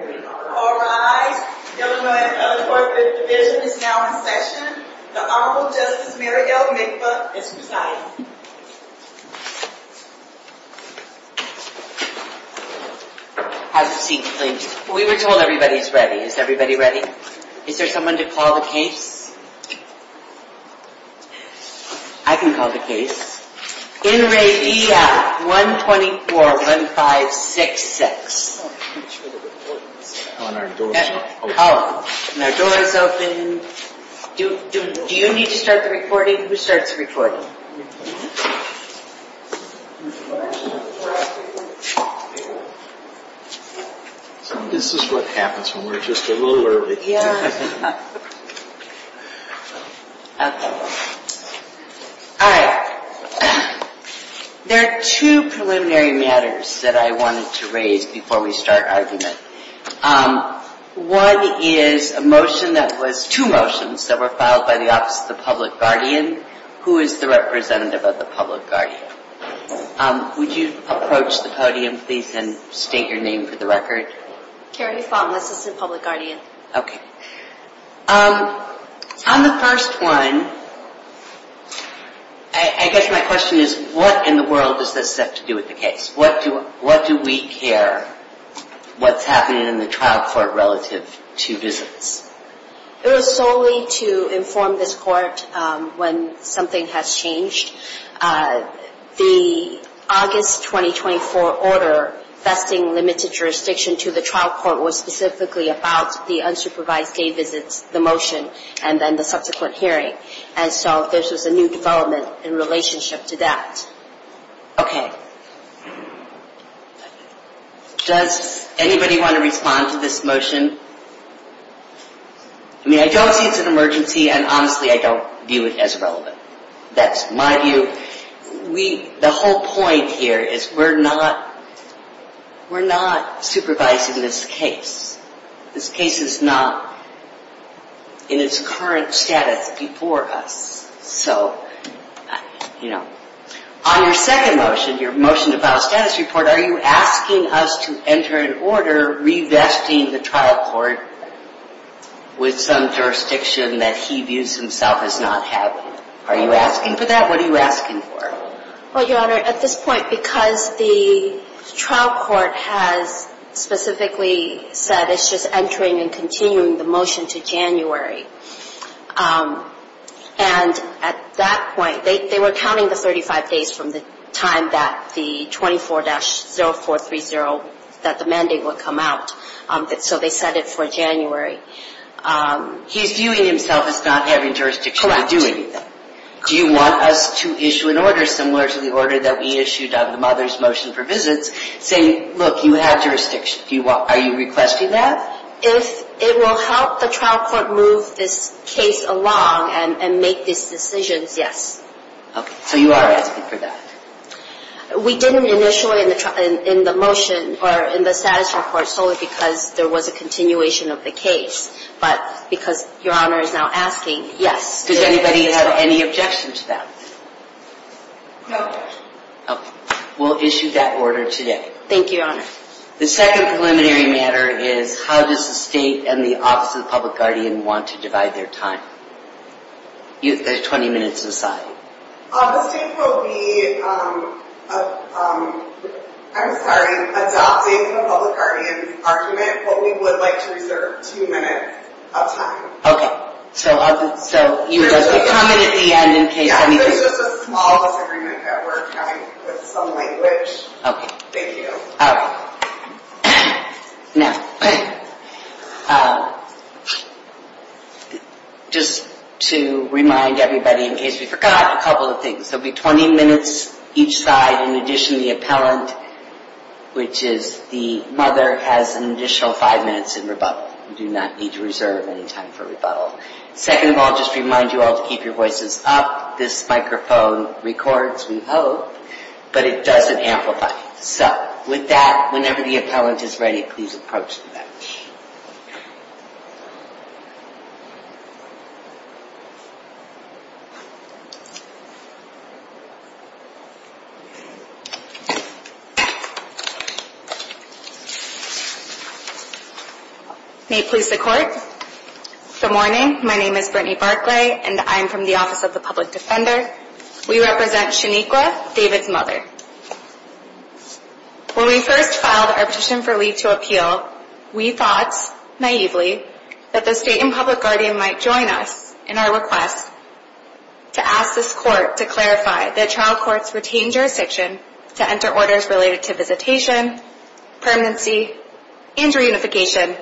All rise, young men and women of the 4th and 5th Division is now in session. The Honorable Justice Marighelle Minkfa is presiding. Have a seat, please. We were told everybody's ready. Is everybody ready? Is there someone to call the case? I can call the case. In re D.F. 124-1566. And our door is open. And our door is open. Do you need to start the recording? Who starts the recording? This is what happens when we're just a little early. All right. There are two preliminary matters that I wanted to raise before we start argument. One is a motion that was, two motions that were filed by the Office of the Public Guardian. Who is the representative of the Public Guardian? Would you approach the podium, please, and state your name for the record? Carrie Fong, Assistant Public Guardian. Okay. On the first one, I guess my question is, what in the world does this have to do with the case? What do we care what's happening in the trial court relative to visits? It was solely to inform this court when something has changed. The August 2024 order vesting limited jurisdiction to the trial court was specifically about the unsupervised day visits, the motion, and then the subsequent hearing. And so this was a new development in relationship to that. Okay. Does anybody want to respond to this motion? I mean, I don't see it's an emergency, and honestly, I don't view it as relevant. That's my view. The whole point here is we're not supervising this case. This case is not in its current status before us. So, you know. On your second motion, your motion to file a status report, are you asking us to enter an order revesting the trial court with some jurisdiction that he views himself as not having? Are you asking for that? What are you asking for? Well, Your Honor, at this point, because the trial court has specifically said it's just entering and continuing the motion to January. And at that point, they were counting the 35 days from the time that the 24-0430, that the mandate would come out. So they set it for January. He's viewing himself as not having jurisdiction to do anything. Correct. Do you want us to issue an order similar to the order that we issued on the mother's motion for visits, saying, look, you have jurisdiction. Are you requesting that? If it will help the trial court move this case along and make these decisions, yes. Okay. So you are asking for that? We didn't initially in the motion or in the status report solely because there was a continuation of the case. But because Your Honor is now asking, yes. Does anybody have any objection to that? No. Okay. We'll issue that order today. Thank you, Your Honor. The second preliminary matter is how does the state and the Office of the Public Guardian want to divide their time? There's 20 minutes aside. The state will be, I'm sorry, adopting the Public Guardian's argument, but we would like to reserve two minutes of time. Okay. So you would just comment at the end in case anything. Yeah, this is just a small disagreement that we're having with some language. Okay. All right. Now, just to remind everybody in case we forgot a couple of things, there will be 20 minutes each side in addition to the appellant, which is the mother has an additional five minutes in rebuttal. You do not need to reserve any time for rebuttal. Second of all, just to remind you all to keep your voices up. This microphone records, we hope, but it doesn't amplify. So with that, whenever the appellant is ready, please approach the bench. May it please the Court. Good morning. My name is Brittany Barclay, and I'm from the Office of the Public Defender. We represent Shaniqua, David's mother. When we first filed our petition for leave to appeal, we thought, naively, that the state and Public Guardian might join us in our request to ask this Court to clarify that trial courts retain jurisdiction to enter orders related to visitation, permanency, and reunification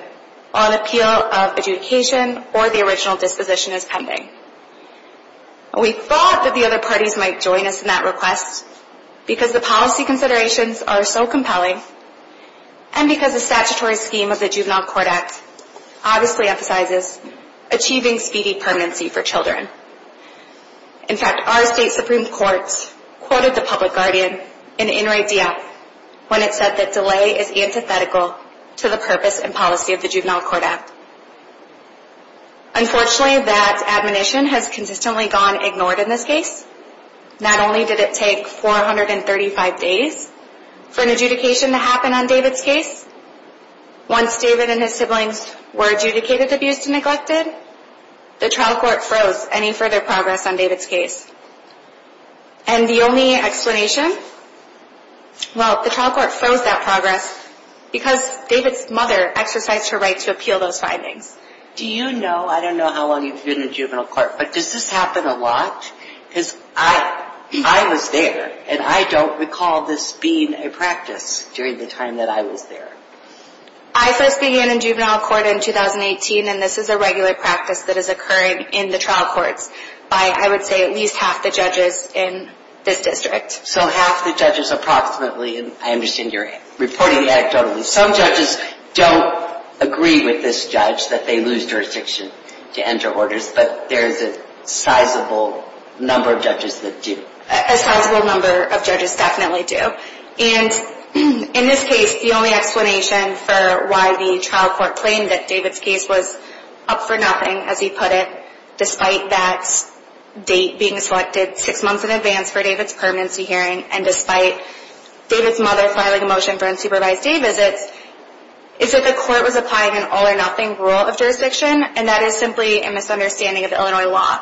on appeal of adjudication or the original disposition as pending. We thought that the other parties might join us in that request because the policy considerations are so compelling and because the statutory scheme of the Juvenile Court Act obviously emphasizes achieving speedy permanency for children. In fact, our state Supreme Court quoted the Public Guardian in In re Dea when it said that delay is antithetical to the purpose and policy of the Juvenile Court Act. Unfortunately, that admonition has consistently gone ignored in this case. Not only did it take 435 days for an adjudication to happen on David's case, once David and his siblings were adjudicated, abused, and neglected, the trial court froze any further progress on David's case. And the only explanation? Well, the trial court froze that progress because David's mother exercised her right to appeal those findings. Do you know, I don't know how long you've been in juvenile court, but does this happen a lot? Because I was there and I don't recall this being a practice during the time that I was there. I first began in juvenile court in 2018, and this is a regular practice that is occurring in the trial courts by, I would say, at least half the judges in this district. So half the judges approximately, and I understand you're reporting anecdotally. Some judges don't agree with this judge that they lose jurisdiction to enter orders, but there's a sizable number of judges that do. A sizable number of judges definitely do. And in this case, the only explanation for why the trial court claimed that David's case was up for nothing, as you put it, despite that date being selected six months in advance for David's permanency hearing, and despite David's mother filing a motion for unsupervised day visits, is that the court was applying an all-or-nothing rule of jurisdiction, and that is simply a misunderstanding of Illinois law.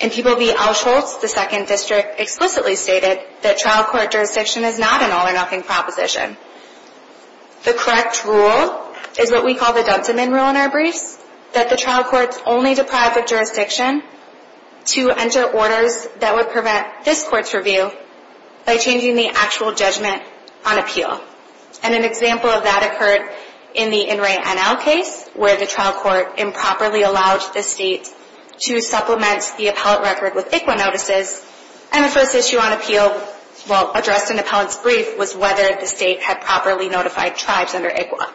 In People v. Auschholz, the second district explicitly stated that trial court jurisdiction is not an all-or-nothing proposition. The correct rule is what we call the Dunson-Minn rule in our briefs, that the trial courts only deprive the jurisdiction to enter orders that would prevent this court's review by changing the actual judgment on appeal. And an example of that occurred in the In Re NL case, where the trial court improperly allowed the state to supplement the appellate record with ICWA notices, and the first issue on appeal, well, addressed in the appellant's brief, was whether the state had properly notified tribes under ICWA.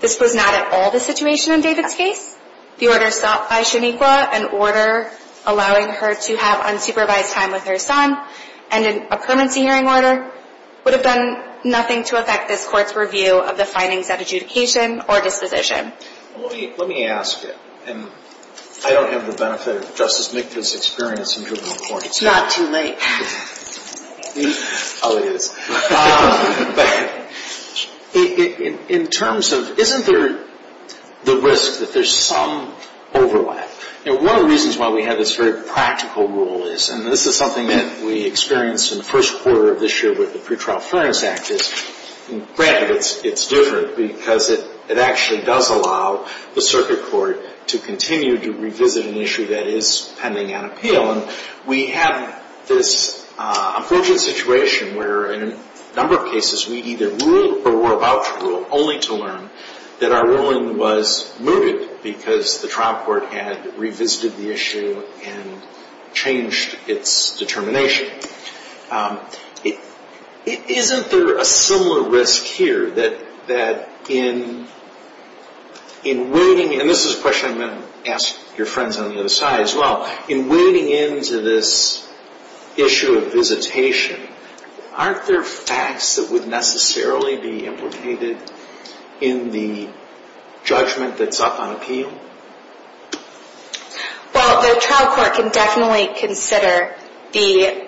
This was not at all the situation in David's case. The order sought by Shonequa, an order allowing her to have unsupervised time with her son, and in a permanency hearing order, would have done nothing to affect this court's review of the findings at adjudication or disposition. Let me ask you, and I don't have the benefit of Justice McVeigh's experience in juvenile court. It's not too late. Oh, it is. In terms of, isn't there the risk that there's some overlap? You know, one of the reasons why we have this very practical rule is, and this is something that we experienced in the first quarter of this year with the pretrial fairness act, is, granted, it's different, because it actually does allow the circuit court to continue to revisit an issue that is pending on appeal. And we have this unfortunate situation where, in a number of cases, we either ruled or were about to rule, only to learn that our ruling was mooted because the trial court had revisited the issue and changed its determination. Isn't there a similar risk here that in waiting, and this is a question I'm going to ask your friends on the other side as well, in waiting into this issue of visitation, aren't there facts that would necessarily be implicated in the judgment that's up on appeal? Well, the trial court can definitely consider the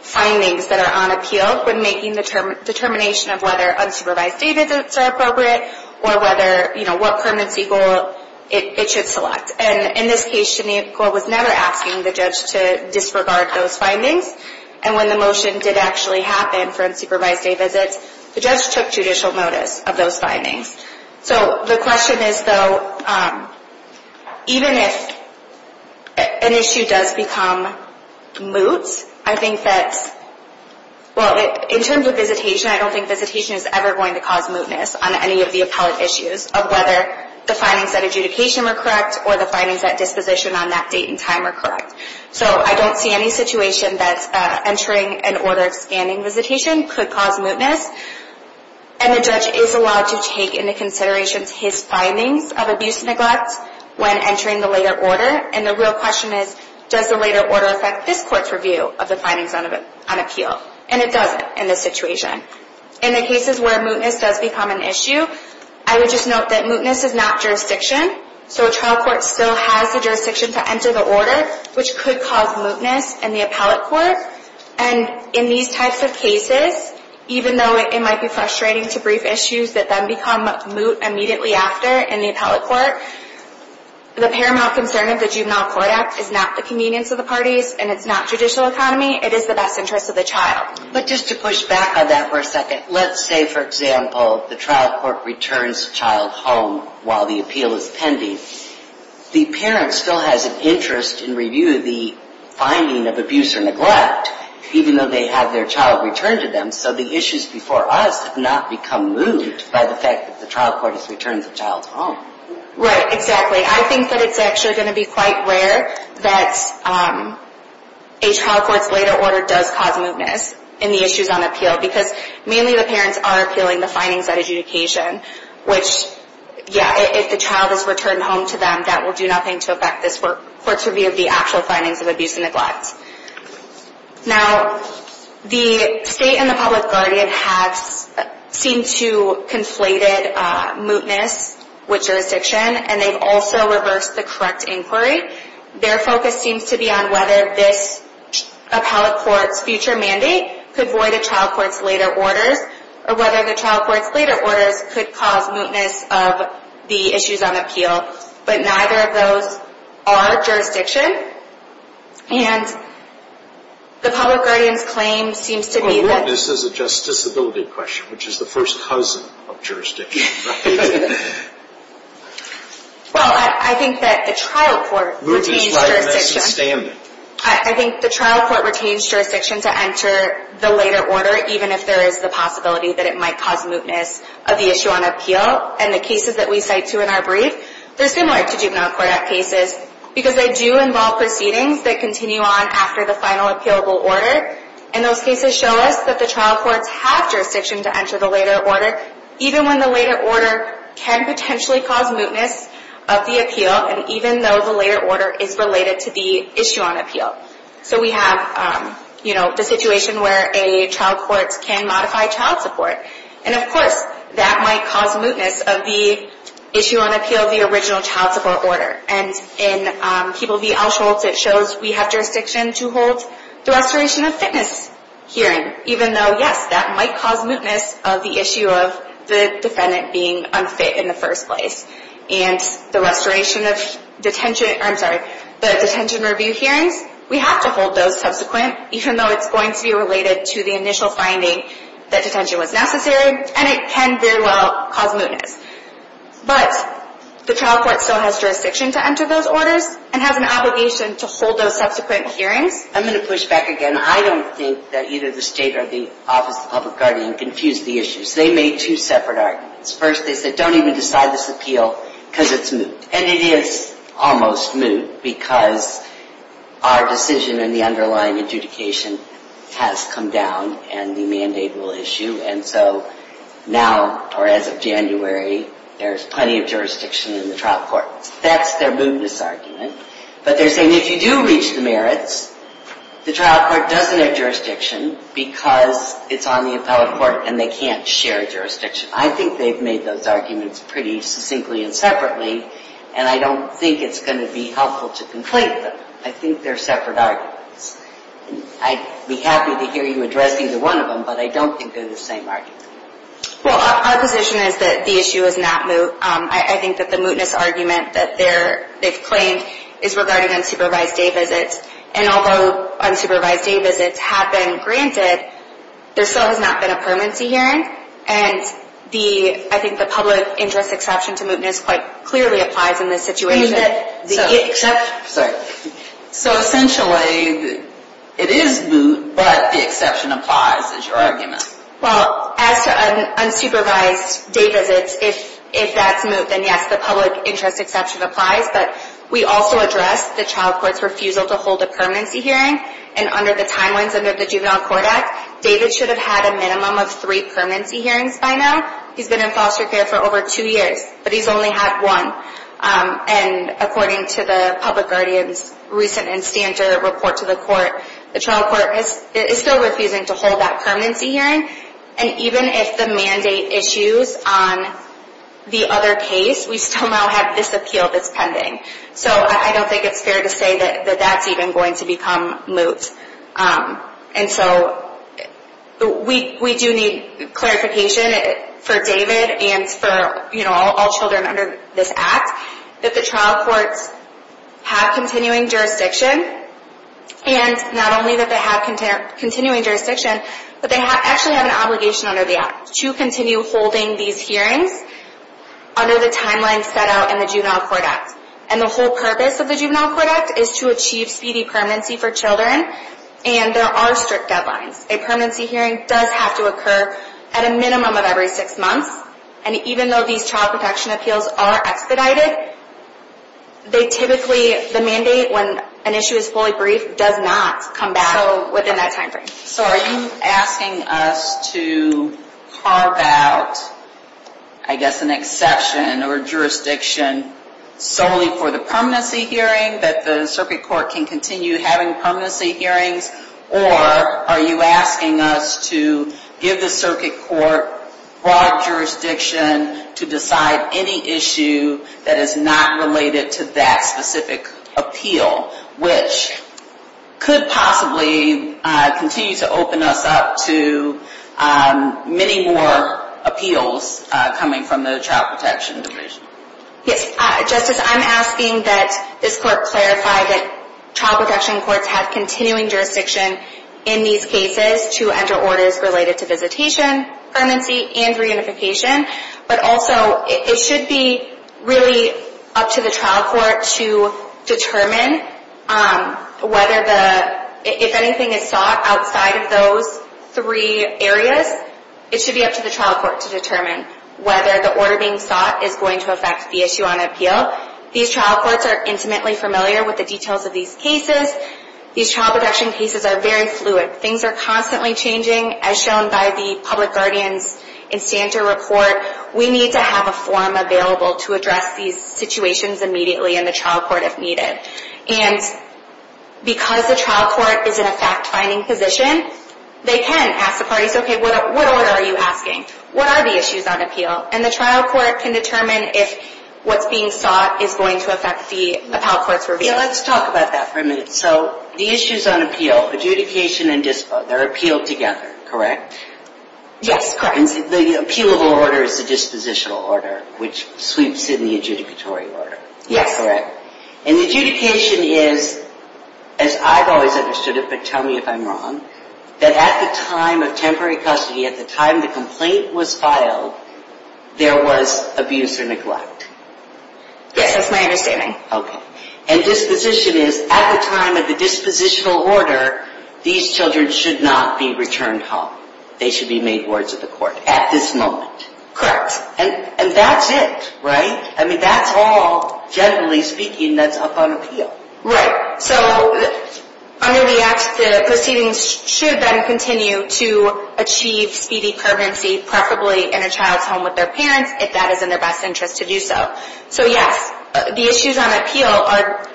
findings that are on appeal when making the determination of whether unsupervised statements are appropriate or what permanency goal it should select. And in this case, Shaniqua was never asking the judge to disregard those findings. And when the motion did actually happen for unsupervised day visits, the judge took judicial notice of those findings. So the question is, though, even if an issue does become moot, I think that, well, in terms of visitation, I don't think visitation is ever going to cause mootness on any of the appellate issues of whether the findings at adjudication were correct or the findings at disposition on that date and time were correct. So I don't see any situation that entering an order of scanning visitation could cause mootness. And the judge is allowed to take into consideration his findings of abuse and neglect when entering the later order. And the real question is, does the later order affect this court's review of the findings on appeal? And it doesn't in this situation. In the cases where mootness does become an issue, I would just note that mootness is not jurisdiction. So a trial court still has the jurisdiction to enter the order, which could cause mootness in the appellate court. And in these types of cases, even though it might be frustrating to brief issues that then become moot immediately after in the appellate court, the paramount concern of the Juvenile Court Act is not the convenience of the parties and it's not judicial economy. It is the best interest of the child. But just to push back on that for a second, let's say, for example, the trial court returns a child home while the appeal is pending. The parent still has an interest in reviewing the finding of abuse or neglect, even though they have their child returned to them. So the issues before us have not become moot by the fact that the trial court has returned the child home. Right, exactly. I think that it's actually going to be quite rare that a trial court's later order does cause mootness in the issues on appeal because mainly the parents are appealing the findings of adjudication, which, yeah, if the child is returned home to them, that will do nothing to affect this court's review of the actual findings of abuse and neglect. Now, the state and the public guardian have seemed to conflate mootness with jurisdiction and they've also reversed the correct inquiry. Their focus seems to be on whether this appellate court's future mandate could void a trial court's later orders or whether the trial court's later orders could cause mootness of the issues on appeal. But neither of those are jurisdiction, and the public guardian's claim seems to be that... Well, mootness is a justiciability question, which is the first cousin of jurisdiction, right? Well, I think that the trial court retains jurisdiction. Mootness is why we're missing standing. I think the trial court retains jurisdiction to enter the later order, even if there is the possibility that it might cause mootness of the issue on appeal. And the cases that we cite to in our brief, they're similar to Juvenile Court Act cases because they do involve proceedings that continue on after the final appealable order. And those cases show us that the trial courts have jurisdiction to enter the later order, even when the later order can potentially cause mootness of the appeal, and even though the later order is related to the issue on appeal. So we have, you know, the situation where a trial court can modify child support. And of course, that might cause mootness of the issue on appeal of the original child support order. And in People v. Auschwitz, it shows we have jurisdiction to hold the restoration of fitness hearing, even though, yes, that might cause mootness of the issue of the defendant being unfit in the first place. And the restoration of detention, I'm sorry, the detention review hearings, we have to hold those subsequent, even though it's going to be related to the initial finding that detention was necessary, and it can very well cause mootness. But the trial court still has jurisdiction to enter those orders and has an obligation to hold those subsequent hearings. I'm going to push back again. I don't think that either the state or the Office of the Public Guardian confused the issues. They made two separate arguments. First, they said, don't even decide this appeal because it's moot. And it is almost moot because our decision in the underlying adjudication has come down and the mandate will issue, and so now, or as of January, there's plenty of jurisdiction in the trial court. That's their mootness argument. But they're saying if you do reach the merits, the trial court doesn't have jurisdiction because it's on the appellate court and they can't share jurisdiction. I think they've made those arguments pretty succinctly and separately, and I don't think it's going to be helpful to conflate them. I think they're separate arguments. I'd be happy to hear you addressing the one of them, but I don't think they're the same argument. Well, our position is that the issue is not moot. I think that the mootness argument that they've claimed is regarding unsupervised day visits, and although unsupervised day visits have been granted, there still has not been a permanency hearing, and I think the public interest exception to mootness quite clearly applies in this situation. So essentially, it is moot, but the exception applies is your argument. Well, as to unsupervised day visits, if that's moot, then yes, the public interest exception applies, but we also addressed the trial court's refusal to hold a permanency hearing, and under the timelines under the Juvenile Court Act, David should have had a minimum of three permanency hearings by now. He's been in foster care for over two years, but he's only had one. And according to the public guardian's recent and standard report to the court, the trial court is still refusing to hold that permanency hearing, and even if the mandate issues on the other case, we still now have this appeal that's pending. So I don't think it's fair to say that that's even going to become moot. And so we do need clarification for David and for all children under this Act, that the trial courts have continuing jurisdiction, and not only that they have continuing jurisdiction, but they actually have an obligation under the Act to continue holding these hearings under the timeline set out in the Juvenile Court Act. And the whole purpose of the Juvenile Court Act is to achieve speedy permanency for children, and there are strict deadlines. A permanency hearing does have to occur at a minimum of every six months, and even though these child protection appeals are expedited, they typically, the mandate, when an issue is fully briefed, does not come back within that timeframe. So are you asking us to carve out, I guess, an exception or jurisdiction solely for the permanency hearing, that the circuit court can continue having permanency hearings, or are you asking us to give the circuit court broad jurisdiction to decide any issue that is not related to that specific appeal, which could possibly continue to open us up to many more appeals coming from the child protection division? Yes, Justice, I'm asking that this Court clarify that child protection courts have continuing jurisdiction in these cases to enter orders related to visitation, permanency, and reunification, but also it should be really up to the trial court to determine whether the, if anything is sought outside of those three areas, it should be up to the trial court to determine whether the order being sought is going to affect the issue on appeal. These trial courts are intimately familiar with the details of these cases. These child protection cases are very fluid. Things are constantly changing, as shown by the Public Guardian's Instander Report. We need to have a forum available to address these situations immediately in the trial court if needed. And because the trial court is in a fact-finding position, they can ask the parties, okay, what order are you asking? What are the issues on appeal? And the trial court can determine if what's being sought is going to affect the appellate court's review. Let's talk about that for a minute. So the issues on appeal, adjudication and dispo, they're appealed together, correct? Yes, correct. And the appealable order is the dispositional order, which sweeps in the adjudicatory order. Yes. Correct. And adjudication is, as I've always understood it, but tell me if I'm wrong, that at the time of temporary custody, at the time the complaint was filed, there was abuse or neglect. Yes, that's my understanding. Okay. And disposition is, at the time of the dispositional order, these children should not be returned home. They should be made wards of the court at this moment. Correct. And that's it, right? I mean, that's all, generally speaking, that's up on appeal. Right. So under the Act, the proceedings should then continue to achieve speedy permanency, preferably in a child's home with their parents, if that is in their best interest to do so. So, yes, the issues on appeal are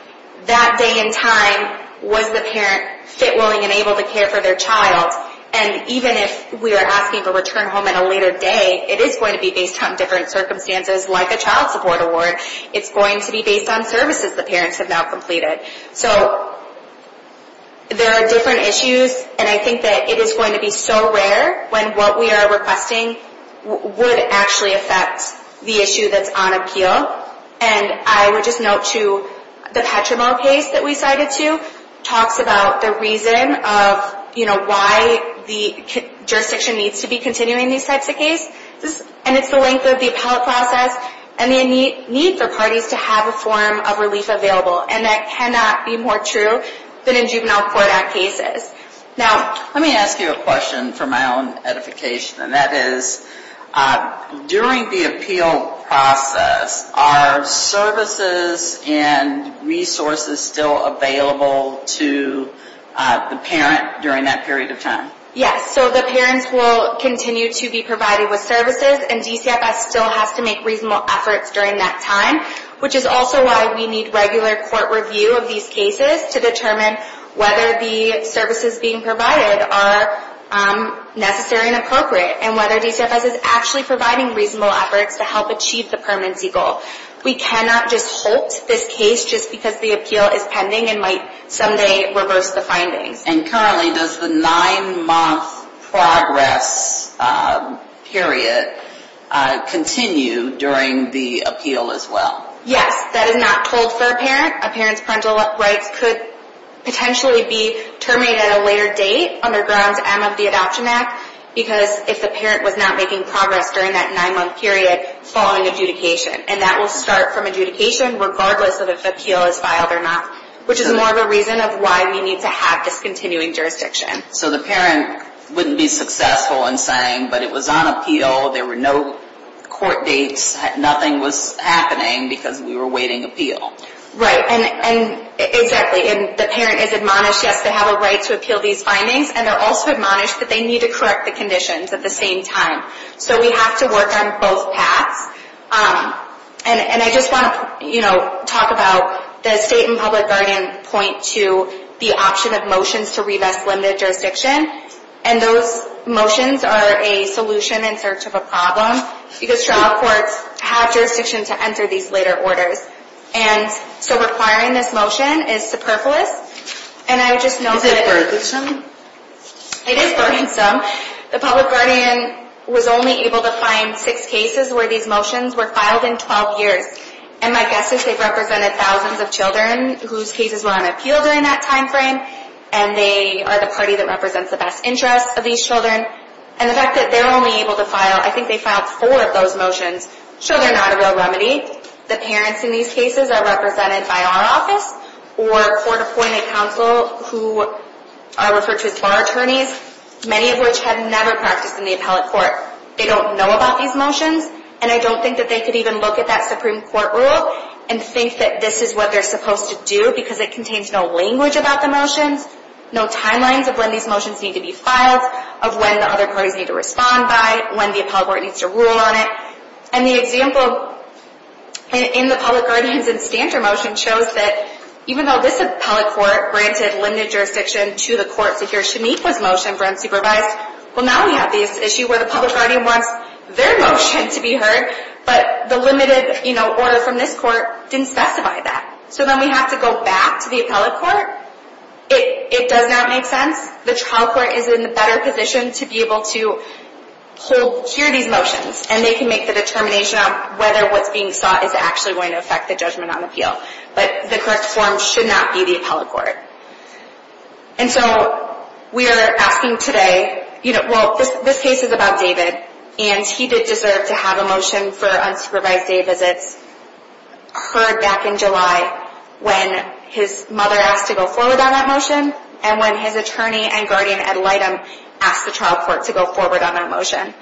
that day in time, was the parent fit, willing, and able to care for their child? And even if we are asking for return home at a later day, it is going to be based on different circumstances, like a child support award. It's going to be based on services the parents have now completed. So there are different issues, and I think that it is going to be so rare when what we are requesting would actually affect the issue that's on appeal. And I would just note, too, the Petrimo case that we cited, too, talks about the reason of, you know, why the jurisdiction needs to be continuing these types of cases. And it's the length of the appellate process and the need for parties to have a form of relief available. And that cannot be more true than in juvenile court act cases. Now, let me ask you a question for my own edification, and that is, during the appeal process, are services and resources still available to the parent during that period of time? Yes, so the parents will continue to be provided with services, and DCFS still has to make reasonable efforts during that time, which is also why we need regular court review of these cases to determine whether the services being provided are necessary and appropriate, and whether DCFS is actually providing reasonable efforts to help achieve the permanency goal. We cannot just halt this case just because the appeal is pending and might someday reverse the findings. And currently, does the nine-month progress period continue during the appeal as well? Yes, that is not told for a parent. A parent's parental rights could potentially be terminated at a later date, under Grounds M of the Adoption Act, because if the parent was not making progress during that nine-month period following adjudication. And that will start from adjudication, regardless of if the appeal is filed or not, which is more of a reason of why we need to have this continuing jurisdiction. So the parent wouldn't be successful in saying, but it was on appeal, there were no court dates, nothing was happening because we were awaiting appeal. Right, and exactly. And the parent is admonished, yes, they have a right to appeal these findings, and they're also admonished that they need to correct the conditions at the same time. So we have to work on both paths. And I just want to talk about the state and public guardian point to the option of motions to revest limited jurisdiction. And those motions are a solution in search of a problem, because trial courts have jurisdiction to enter these later orders. And so requiring this motion is superfluous. Is it burdensome? It is burdensome. The public guardian was only able to find six cases where these motions were filed in 12 years. And my guess is they've represented thousands of children whose cases were on appeal during that time frame, and they are the party that represents the best interest of these children. And the fact that they're only able to file, I think they filed four of those motions. So they're not a real remedy. The parents in these cases are represented by our office, or court appointed counsel who are referred to as bar attorneys, many of which have never practiced in the appellate court. They don't know about these motions, and I don't think that they could even look at that Supreme Court rule and think that this is what they're supposed to do because it contains no language about the motions, no timelines of when these motions need to be filed, of when the other parties need to respond by, when the appellate court needs to rule on it. And the example in the public guardians and stander motion shows that even though this appellate court granted limited jurisdiction to the court to hear Shameika's motion for unsupervised, well now we have this issue where the public guardian wants their motion to be heard, but the limited order from this court didn't specify that. So then we have to go back to the appellate court. It does not make sense. The trial court is in a better position to be able to hear these motions, and they can make the determination of whether what's being sought is actually going to affect the judgment on appeal. But the correct form should not be the appellate court. And so we are asking today, you know, well, this case is about David, and he did deserve to have a motion for unsupervised day visits heard back in July when his mother asked to go forward on that motion and when his attorney and guardian, Ed Lightham, asked the trial court to go forward on that motion.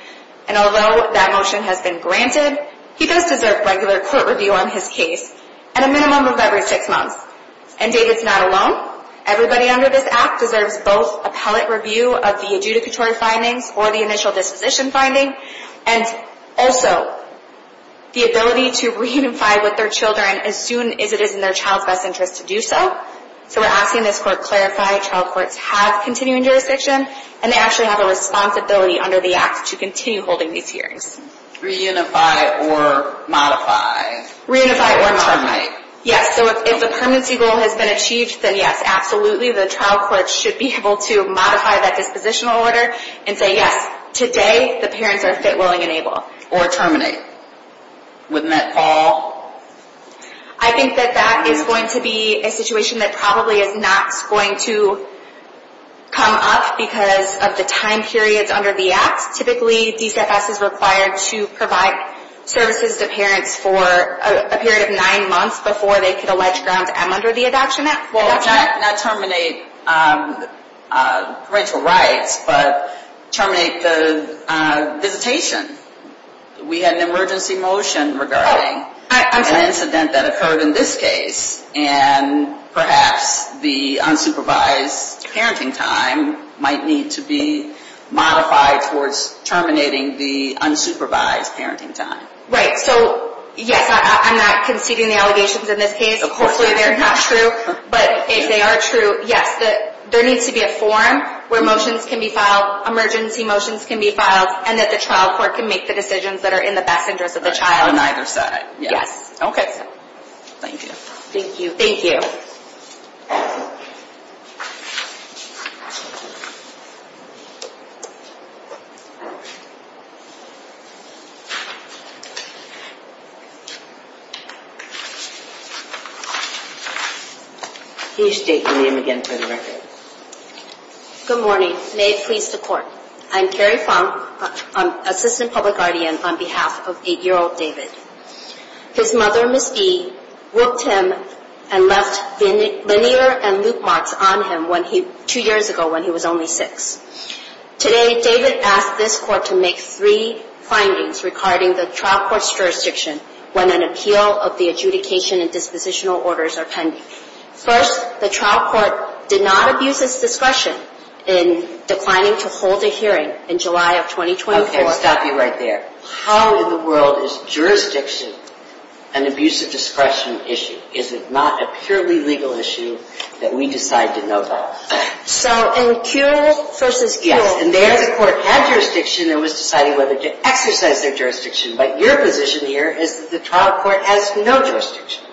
And although that motion has been granted, he does deserve regular court review on his case at a minimum of every six months. And David's not alone. Everybody under this Act deserves both appellate review of the adjudicatory findings or the initial disposition finding, and also the ability to reunify with their children as soon as it is in their child's best interest to do so. So we're asking this court clarify trial courts have continuing jurisdiction, and they actually have a responsibility under the Act to continue holding these hearings. Reunify or modify. Reunify or modify. Or terminate. Yes, so if the permanency goal has been achieved, then yes, absolutely. The trial court should be able to modify that dispositional order and say, yes, today the parents are fit, willing, and able. Or terminate. Wouldn't that fall? I think that that is going to be a situation that probably is not going to come up because of the time periods under the Act. Typically, DCFS is required to provide services to parents for a period of nine months before they could allege grounds M under the adoption act. Not terminate parental rights, but terminate the visitation. We had an emergency motion regarding an incident that occurred in this case, and perhaps the unsupervised parenting time might need to be modified towards terminating the unsupervised parenting time. Right. So, yes, I'm not conceding the allegations in this case. Hopefully they're not true. But if they are true, yes, there needs to be a forum where motions can be filed, emergency motions can be filed, and that the trial court can make the decisions that are in the best interest of the child. On either side. Yes. Okay. Thank you. Thank you. Can you state your name again for the record? Good morning. May it please the Court. I'm Carrie Fong, Assistant Public Guardian, on behalf of 8-year-old David. His mother, Ms. B, whooped him and left linear and loop marks on him two years ago when he was only six. Today, David asked this court to make three findings regarding the trial court's jurisdiction when an appeal of the adjudication and dispositional orders are pending. First, the trial court did not abuse its discretion in declining to hold a hearing in July of 2024. Okay, I'll stop you right there. How in the world is jurisdiction an abuse of discretion issue? Is it not a purely legal issue that we decide to know about? So, in Kuehl v. Kuehl. Yes, and there the court had jurisdiction and was deciding whether to exercise their jurisdiction. But your position here is that the trial court has no jurisdiction.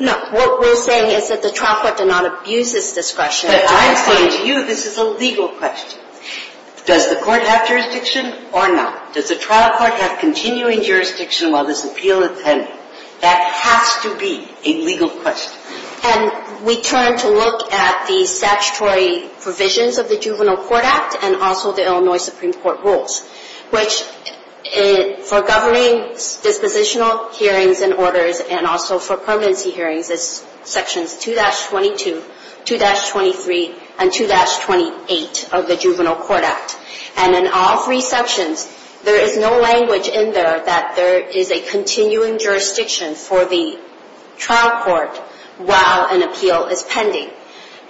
No, what we're saying is that the trial court did not abuse its discretion. But I'm saying to you this is a legal question. Does the court have jurisdiction or not? Does the trial court have continuing jurisdiction while this appeal is pending? That has to be a legal question. And we turn to look at the statutory provisions of the Juvenile Court Act and also the Illinois Supreme Court rules, which for governing dispositional hearings and orders and also for permanency hearings is sections 2-22, 2-23, and 2-28 of the Juvenile Court Act. And in all three sections, there is no language in there that there is a continuing jurisdiction for the trial court while an appeal is pending.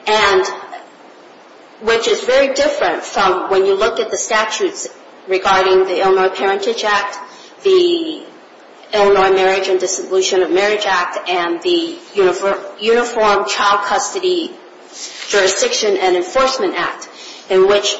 And which is very different from when you look at the statutes regarding the Illinois Parentage Act, the Illinois Marriage and Dissolution of Marriage Act, and the Uniform Child Custody Jurisdiction and Enforcement Act in which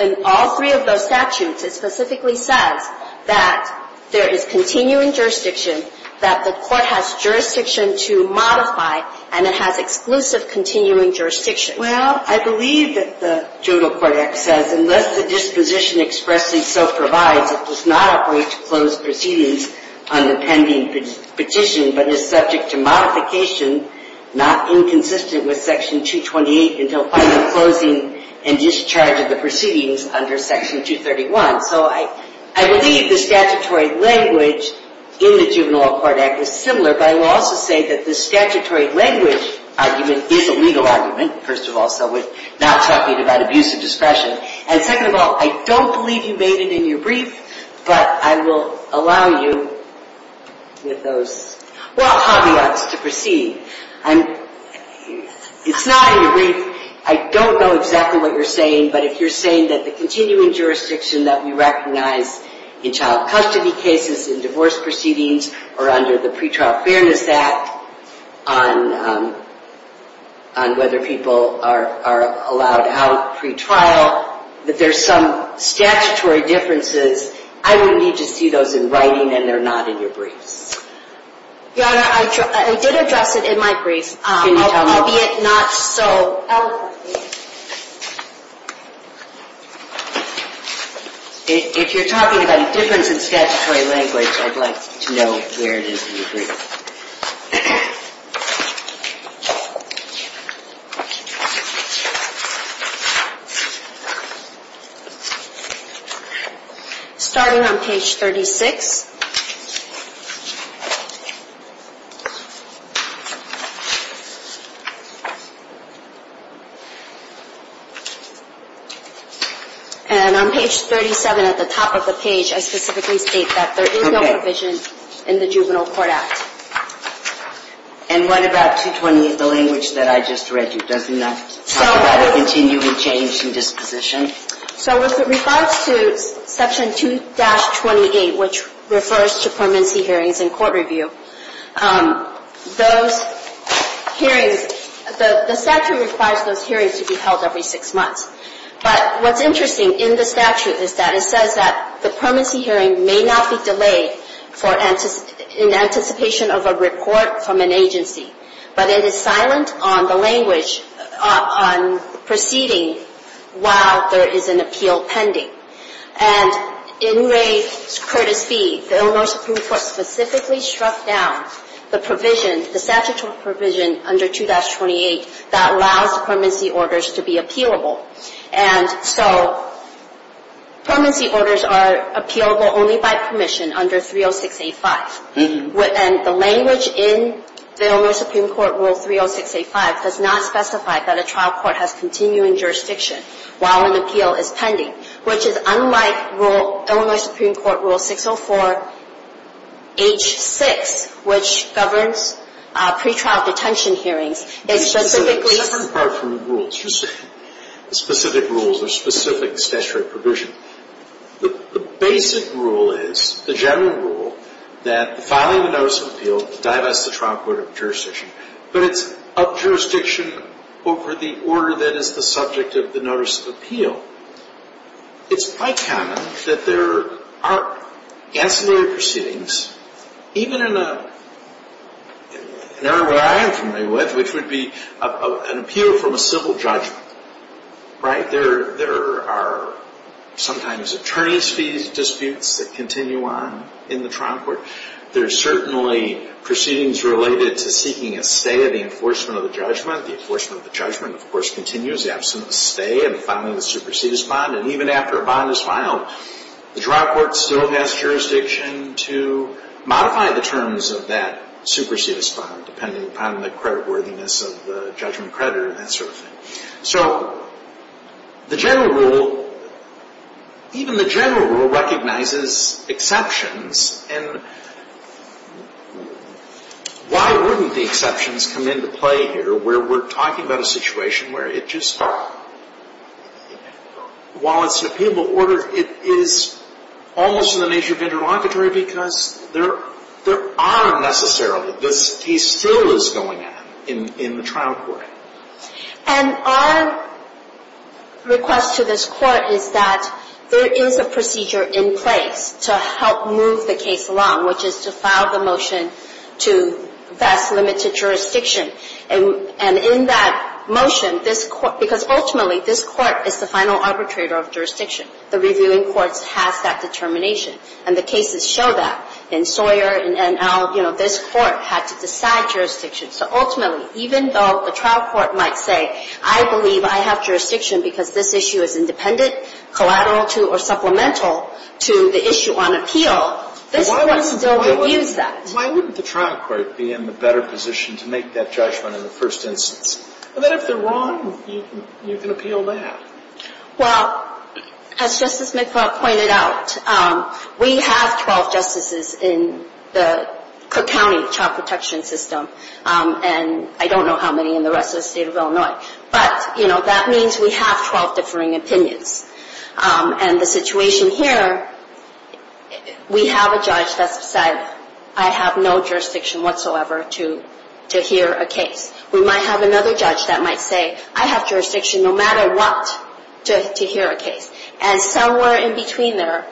in all three of those statutes it specifically says that there is continuing jurisdiction, that the court has jurisdiction to modify, and it has exclusive continuing jurisdiction. Well, I believe that the Juvenile Court Act says unless the disposition expressly so provides, it does not operate to close proceedings on the pending petition, but is subject to modification not inconsistent with section 228 until final closing and discharge of the proceedings under section 231. So I believe the statutory language in the Juvenile Court Act is similar, but I will also say that the statutory language argument is a legal argument, first of all, so we're not talking about abuse of discretion. And second of all, I don't believe you made it in your brief, but I will allow you with those, well, caveats to proceed. It's not in your brief. I don't know exactly what you're saying, but if you're saying that the continuing jurisdiction that we recognize in child custody cases, in divorce proceedings, or under the Pretrial Fairness Act, on whether people are allowed out pretrial, that there's some statutory differences, I would need to see those in writing and they're not in your briefs. Your Honor, I did address it in my brief, albeit not so eloquently. If you're talking about a difference in statutory language, I'd like to know where it is in your brief. Okay. Starting on page 36. And on page 37, at the top of the page, I specifically state that there is no provision in the Juvenile Court Act. And what about 220, the language that I just read you? Doesn't that talk about a continuing change in disposition? So with regards to section 2-28, which refers to the provision in court review, those hearings, the statute requires those hearings to be held every six months. But what's interesting in the statute is that it says that the permanency hearing may not be delayed in anticipation of a report from an agency, but it is silent on the language on proceeding while there is an appeal pending. And in Ray Curtis B., the Illinois Supreme Court specifically struck down the provision, the statutory provision under 220-28 that allows permanency orders to be appealable. And so permanency orders are appealable only by permission under 306-85. And the language in the Illinois Supreme Court Rule 306-85 does not specify that a trial court has which is unlike Illinois Supreme Court Rule 604-H-6, which governs pretrial detention hearings, is specifically It's a different part from the rules. Specific rules or specific statutory provision. The basic rule is, the general rule, that filing a notice of appeal divests the trial court of jurisdiction. But it's of jurisdiction over the order that is the subject of the notice of appeal. It's quite common that there are ancillary proceedings, even in an area that I am familiar with, which would be an appeal from a civil judgment. There are sometimes attorney's fees disputes that continue on in the trial court. There are certainly proceedings related to seeking a stay of the enforcement of the judgment. The enforcement of the judgment, of course, continues, the absence of a stay, and the filing of the supersedis bond. And even after a bond is filed, the trial court still has jurisdiction to modify the terms of that supersedis bond, depending upon the creditworthiness of the judgment creditor and that sort of thing. So the general rule, even the general rule recognizes exceptions. And why wouldn't the exceptions come into play here, where we're talking about a situation where it just, while it's an appealable order, it is almost in the nature of interlocutory, because there are necessarily, this case still is going on in the trial court. And our request to this court is that there is a procedure in place to help move the case along, which is to file the motion to vest limited jurisdiction. And in that motion, this court, because ultimately this court is the final arbitrator of jurisdiction. The reviewing court has that determination. And the cases show that. In Sawyer, in NL, you know, this court had to decide jurisdiction. So ultimately, even though the trial court might say, I believe I have jurisdiction because this issue is independent, collateral to, or supplemental to the issue on appeal, this court still reviews that. Why wouldn't the trial court be in the better position to make that judgment in the first instance? Well, then if they're wrong, you can appeal that. Well, as Justice McFarland pointed out, we have 12 justices in the Cook County Child Protection System. And I don't know how many in the rest of the state of Illinois. But, you know, that means we have 12 differing opinions. And the situation here, we have a judge that said, I have no jurisdiction whatsoever to hear a case. We might have another judge that might say, I have jurisdiction no matter what to hear a case. And somewhere in between there,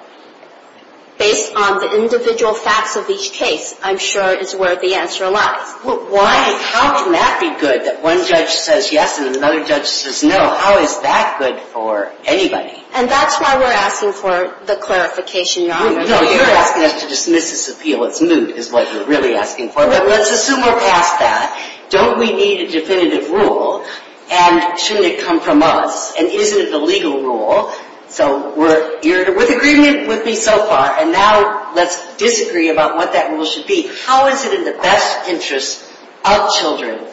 based on the individual facts of each case, I'm sure is where the answer lies. Well, how can that be good that one judge says yes and another judge says no? How is that good for anybody? And that's why we're asking for the clarification, Your Honor. No, you're asking us to dismiss this appeal. It's moot is what you're really asking for. But let's assume we're past that. Don't we need a definitive rule? And shouldn't it come from us? And isn't it the legal rule? So you're with agreement with me so far. And now let's disagree about what that rule should be. How is it in the best interest of children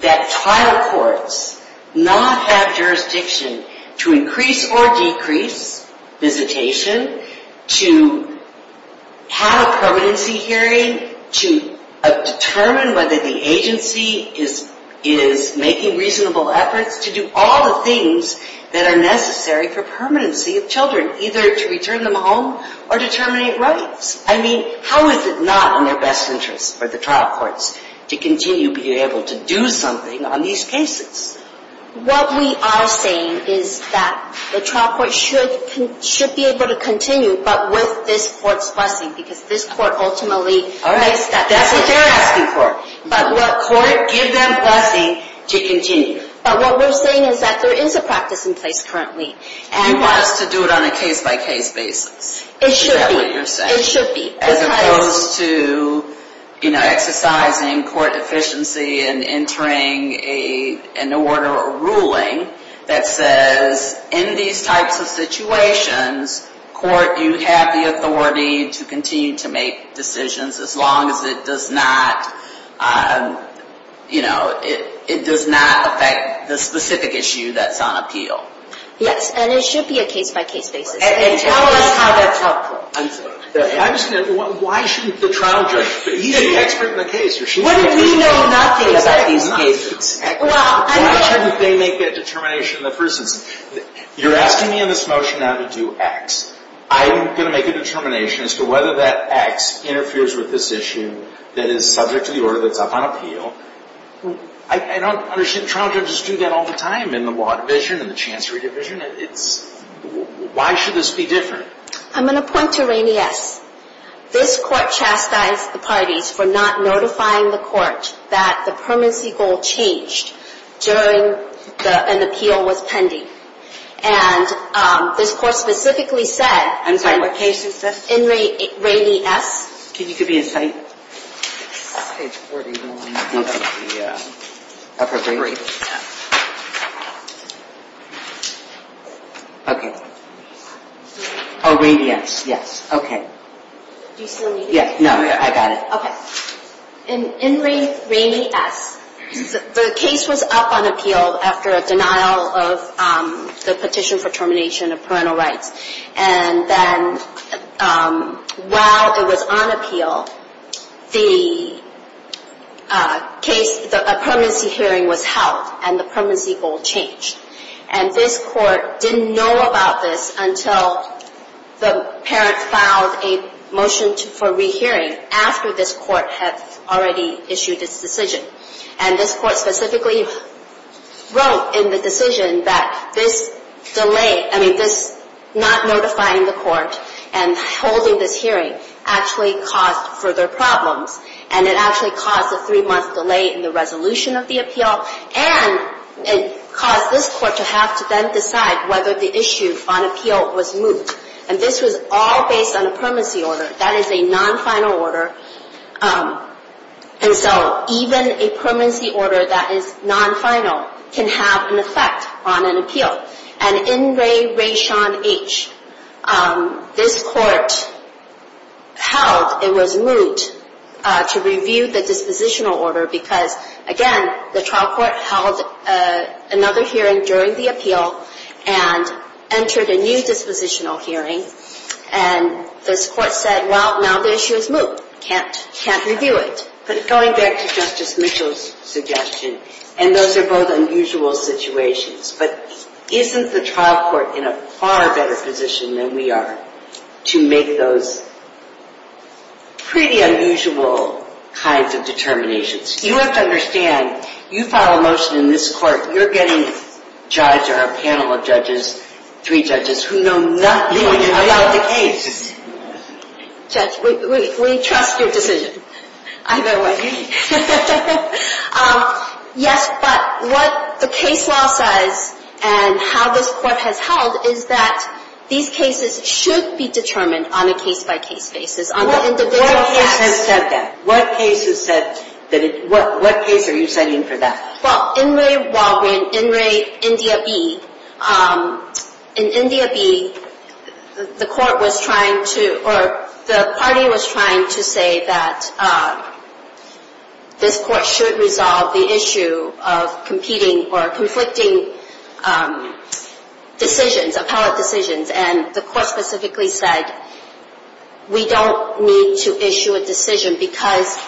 that trial courts not have jurisdiction to increase or decrease visitation, to have a permanency hearing, to determine whether the agency is making reasonable efforts to do all the things that are necessary for permanency of children, either to return them home or to terminate rights? I mean, how is it not in their best interest for the trial courts to continue being able to do something on these cases? What we are saying is that the trial court should be able to continue, but with this court's blessing, because this court ultimately makes that decision. All right, that's what they're asking for. But court, give them blessing to continue. But what we're saying is that there is a practice in place currently. And you want us to do it on a case-by-case basis? It should be. Is that what you're saying? It should be. As opposed to exercising court efficiency and entering an order or ruling that says, in these types of situations, court, you have the authority to continue to make decisions as long as it does not affect the specific issue that's on appeal. Yes, and it should be a case-by-case basis. And tell us how that's helpful. I'm sorry. I'm just going to ask, why shouldn't the trial judge be an expert in the case? Wouldn't we know nothing about these cases? Why shouldn't they make that determination? For instance, you're asking me in this motion now to do X. I'm going to make a determination as to whether that X interferes with this issue that is subject to the order that's up on appeal. I don't understand. Trial judges do that all the time in the law division and the chancery division. Why should this be different? I'm going to point to Rainey S. This court chastised the parties for not notifying the court that the permanency goal changed during an appeal was pending. And this court specifically said... I'm sorry, what case is this? In Rainey S. Can you give me a cite? Page 41 of the upper brief. Okay. Oh, Rainey S., yes. Okay. Do you still need it? No, I got it. In Rainey S., the case was up on appeal after a denial of the petition for termination of parental rights. And then while it was on appeal, the case, the permanency hearing was held and the permanency goal changed. And this court didn't know about this until the parent filed a motion for rehearing after this court had already issued its decision. And this court specifically wrote in the decision that this delay, I mean, this not notifying the court and holding this hearing actually caused further problems. And it actually caused a three-month delay in the resolution of the appeal. And it caused this court to have to then decide whether the issue on appeal was moot. And this was all based on a permanency order. That is a non-final order. And so even a permanency order that is non-final can have an effect on an appeal. And in Ray Raishan H., this court held it was moot to review the dispositional order because, again, the trial court held another hearing during the appeal and entered a new dispositional hearing. And this court said, well, now the issue is moot. Can't review it. But going back to Justice Mitchell's suggestion, and those are both unusual situations, but isn't the trial court in a far better position than we are to make those pretty unusual kinds of determinations? You have to understand, you file a motion in this court, you're getting a judge or a panel of judges, three judges, who know nothing about the case. Judge, we trust your decision. Either way. Yes, but what the case law says and how this court has held is that these cases should be determined on a case-by-case basis. What case has said that? What case are you citing for that? Well, in Ray Raishan H., in India B, the court was trying to, or the party was trying to say that this court should resolve the issue of competing or conflicting decisions, appellate decisions. And the court specifically said, we don't need to issue a decision because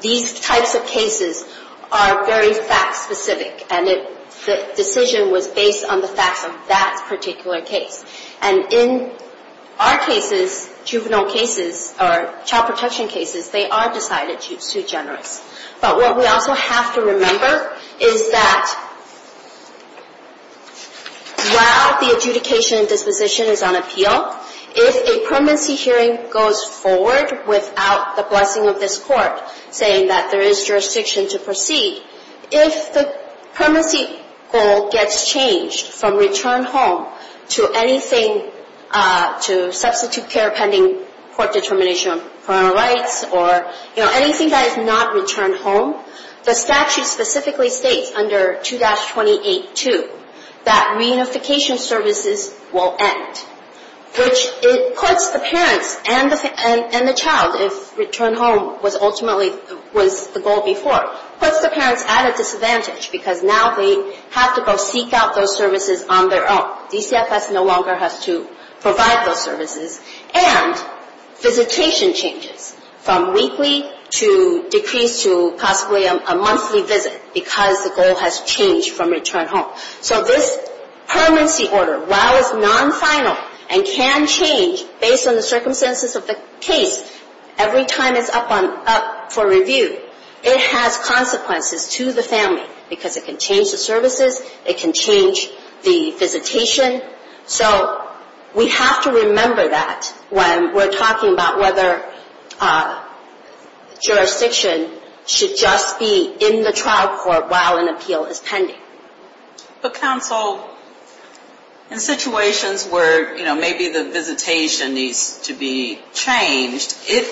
these types of cases are very fact-specific. And the decision was based on the facts of that particular case. And in our cases, juvenile cases, or child protection cases, they are decidedly too generous. But what we also have to remember is that while the adjudication disposition is on appeal, if a permanency hearing goes forward without the blessing of this court saying that there is jurisdiction to proceed, if the permanency goal gets changed from return home to anything to substitute care pending court determination on criminal rights or anything that is not return home, the statute specifically states under 2-28-2 that reunification services will end. Which puts the parents and the child, if return home was ultimately the goal before, puts the parents at a disadvantage because now they have to go seek out those services on their own. DCFS no longer has to provide those services. And visitation changes from weekly to decreased to possibly a monthly visit because the goal has changed from return home. So this permanency order, while it's non-final and can change based on the circumstances of the case every time it's up for review, it has consequences to the family because it can change the services, it can change the visitation. So we have to remember that when we're talking about whether jurisdiction should just be in the trial court while an appeal is pending. But counsel, in situations where, you know, maybe the visitation needs to be changed, it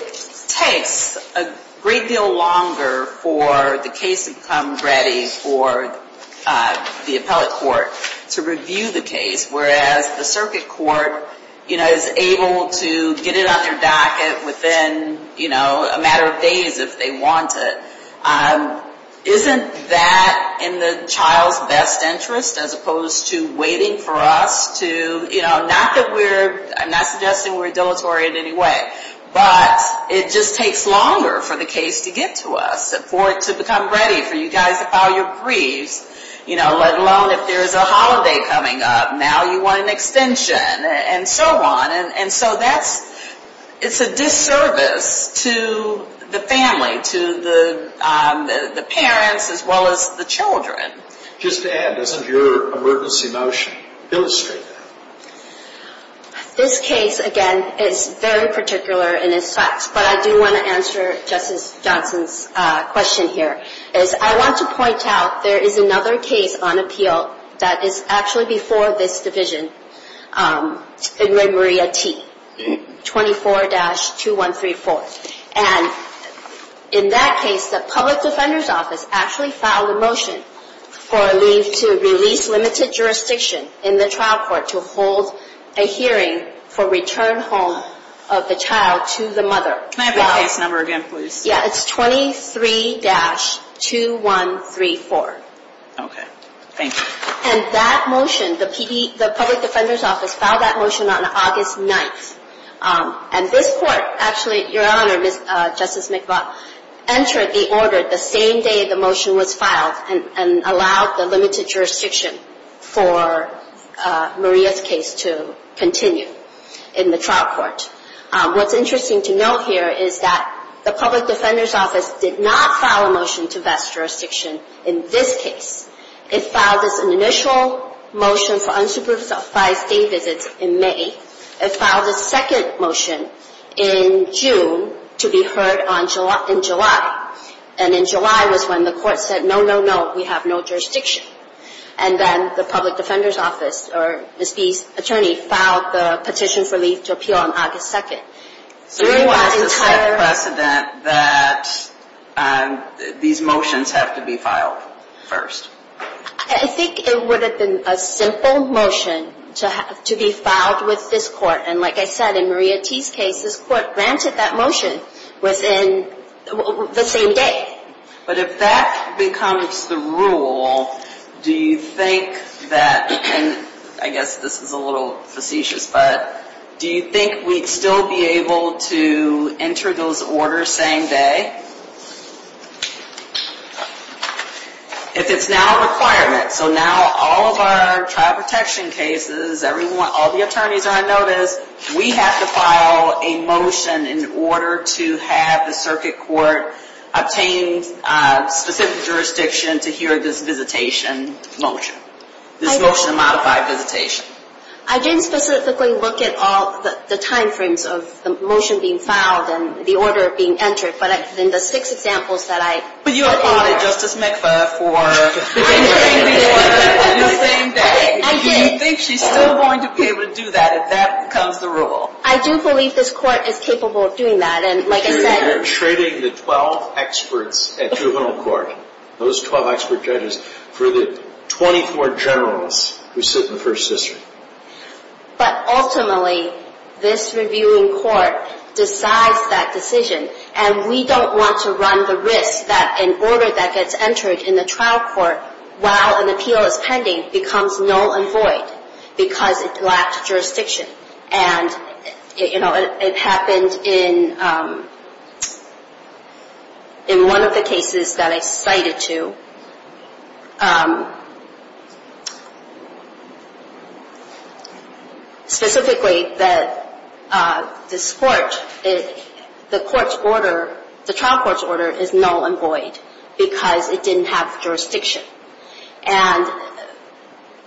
takes a great deal longer for the case to come ready for the appellate court to review the case, whereas the circuit court, you know, is able to get it on their docket within, you know, a matter of days if they want it. Isn't that in the child's best interest as opposed to waiting for us to, you know, not that we're, I'm not suggesting we're dilatory in any way, but it just takes longer for the case to get to us, for it to become ready for you guys to file your briefs, you know, let alone if there's a holiday coming up, now you want an extension and so on. And so that's, it's a disservice to the family, to the parents as well as the children. Just to add, doesn't your emergency motion illustrate that? This case, again, is very particular in its facts, but I do want to answer Justice Johnson's question here. As I want to point out, there is another case on appeal that is actually before this division in Remoria T, 24-2134. And in that case, the public defender's office actually filed a motion for a leave to release limited jurisdiction in the trial court to hold a hearing for return home of the child to the mother. Can I have the case number again, please? Yeah, it's 23-2134. Okay, thank you. And that motion, the public defender's office filed that motion on August 9th. And this court, actually, Your Honor, Justice McBuff, entered the order the same day the motion was filed and allowed the limited jurisdiction for Maria's case to continue in the trial court. What's interesting to note here is that the public defender's office did not file a motion to vest jurisdiction in this case. It filed this initial motion for unsupervised day visits in May. It filed a second motion in June to be heard in July. And in July was when the court said, no, no, no, we have no jurisdiction. And then the public defender's office, or Ms. B's attorney, filed the petition for leave to appeal on August 2nd. So you want to set precedent that these motions have to be filed first? I think it would have been a simple motion to be filed with this court. And like I said, in Maria T's case, this court granted that motion within the same day. But if that becomes the rule, do you think that, and I guess this is a little facetious, but do you think we'd still be able to enter those orders same day? If it's now a requirement, so now all of our trial protection cases, all the attorneys are on notice, we have to file a motion in order to have the circuit court obtain specific jurisdiction to hear this visitation motion. This motion to modify visitation. I didn't specifically look at all the time frames of the motion being filed and the order being entered, but in the six examples that I... But you applauded Justice McFarland for... ...in the same day. Do you think she's still going to be able to do that if that becomes the rule? I do believe this court is capable of doing that, and like I said... You're trading the 12 experts at juvenile court, those 12 expert judges, for the 24 generals who sit in the first district. But ultimately, this reviewing court decides that decision, and we don't want to run the risk that an order that gets entered in the trial court while an appeal is pending becomes null and void because it lacked jurisdiction. And it happened in one of the cases that I cited to. Specifically, this court, the trial court's order is null and void because it didn't have jurisdiction. And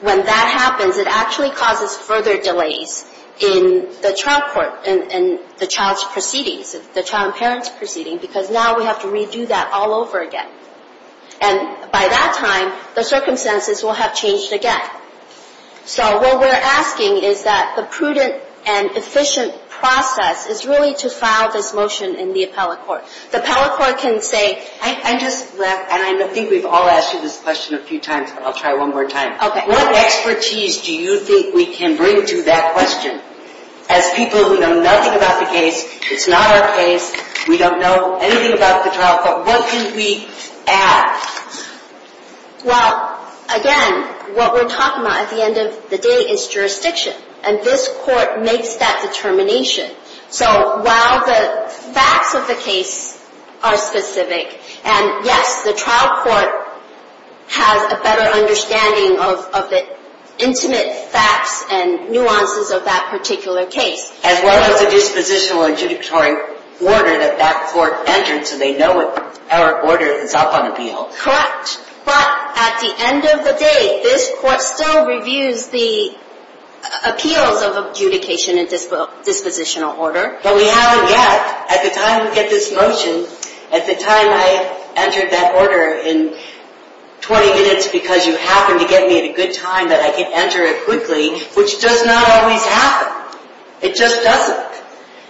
when that happens, it actually causes further delays in the trial court, in the child's proceedings, the child and parent's proceedings, because now we have to redo that all over again. And by that time, the circumstances will have changed again. So what we're asking is that the prudent and efficient process is really to file this motion in the appellate court. The appellate court can say... I just left, and I think we've all asked you this question a few times, but I'll try one more time. Okay. What expertise do you think we can bring to that question? As people who know nothing about the case, it's not our case, we don't know anything about the trial court, what can we add? Well, again, what we're talking about at the end of the day is jurisdiction. And this court makes that determination. So while the facts of the case are specific, and, yes, the trial court has a better understanding of the intimate facts and nuances of that particular case. As well as the dispositional and judicatory order that that court entered, so they know our order is up on appeal. Correct. But at the end of the day, this court still reviews the appeals of adjudication and dispositional order. But we haven't yet. At the time we get this motion, at the time I entered that order in 20 minutes because you happened to get me at a good time, that I could enter it quickly, which does not always happen. It just doesn't.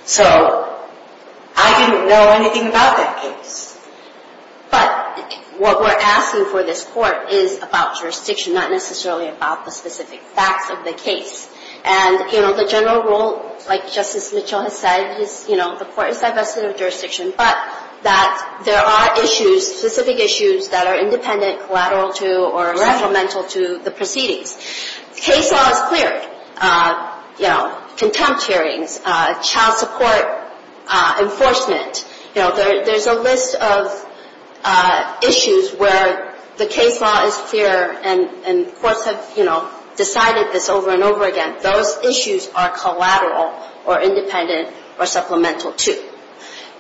So I didn't know anything about that case. But what we're asking for this court is about jurisdiction, not necessarily about the specific facts of the case. And, you know, the general rule, like Justice Mitchell has said, is, you know, the court is divested of jurisdiction, but that there are issues, specific issues, that are independent, collateral to, or supplemental to the proceedings. Case law is clear. You know, contempt hearings, child support enforcement, you know, there's a list of issues where the case law is clear and courts have, you know, decided this over and over again. Those issues are collateral or independent or supplemental to.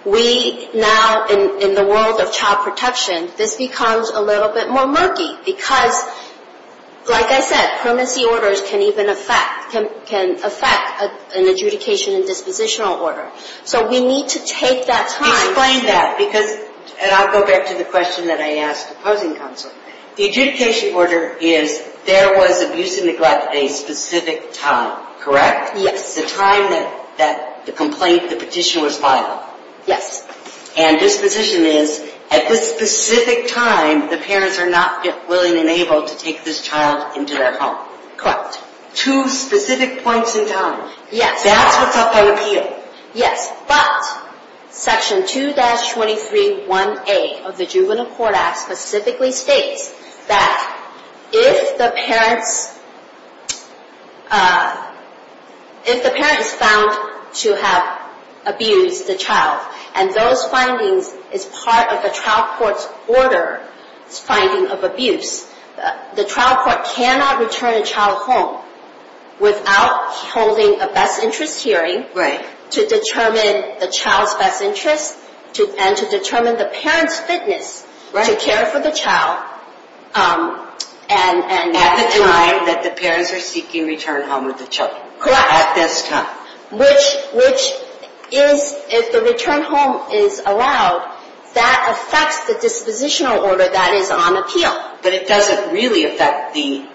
We now, in the world of child protection, this becomes a little bit more murky because, like I said, permanency orders can even affect, can affect an adjudication and dispositional order. So we need to take that time. Explain that because, and I'll go back to the question that I asked the opposing counsel. The adjudication order is, there was abuse and neglect at a specific time, correct? Yes. It's the time that the complaint, the petition was filed. Yes. And disposition is, at this specific time, the parents are not yet willing and able to take this child into their home. Correct. Two specific points in time. Yes. That's what's up on appeal. Yes, but section 2-23-1A of the Juvenile Court Act specifically states that if the parents, if the parent is found to have abused the child and those findings is part of the trial court's order, it's finding of abuse, the trial court cannot return a child home without holding a best interest hearing. Right. To determine the child's best interest and to determine the parent's fitness to care for the child. At the time that the parents are seeking return home with the child. Correct. At this time. Which is, if the return home is allowed, that affects the dispositional order that is on appeal. But it doesn't really affect the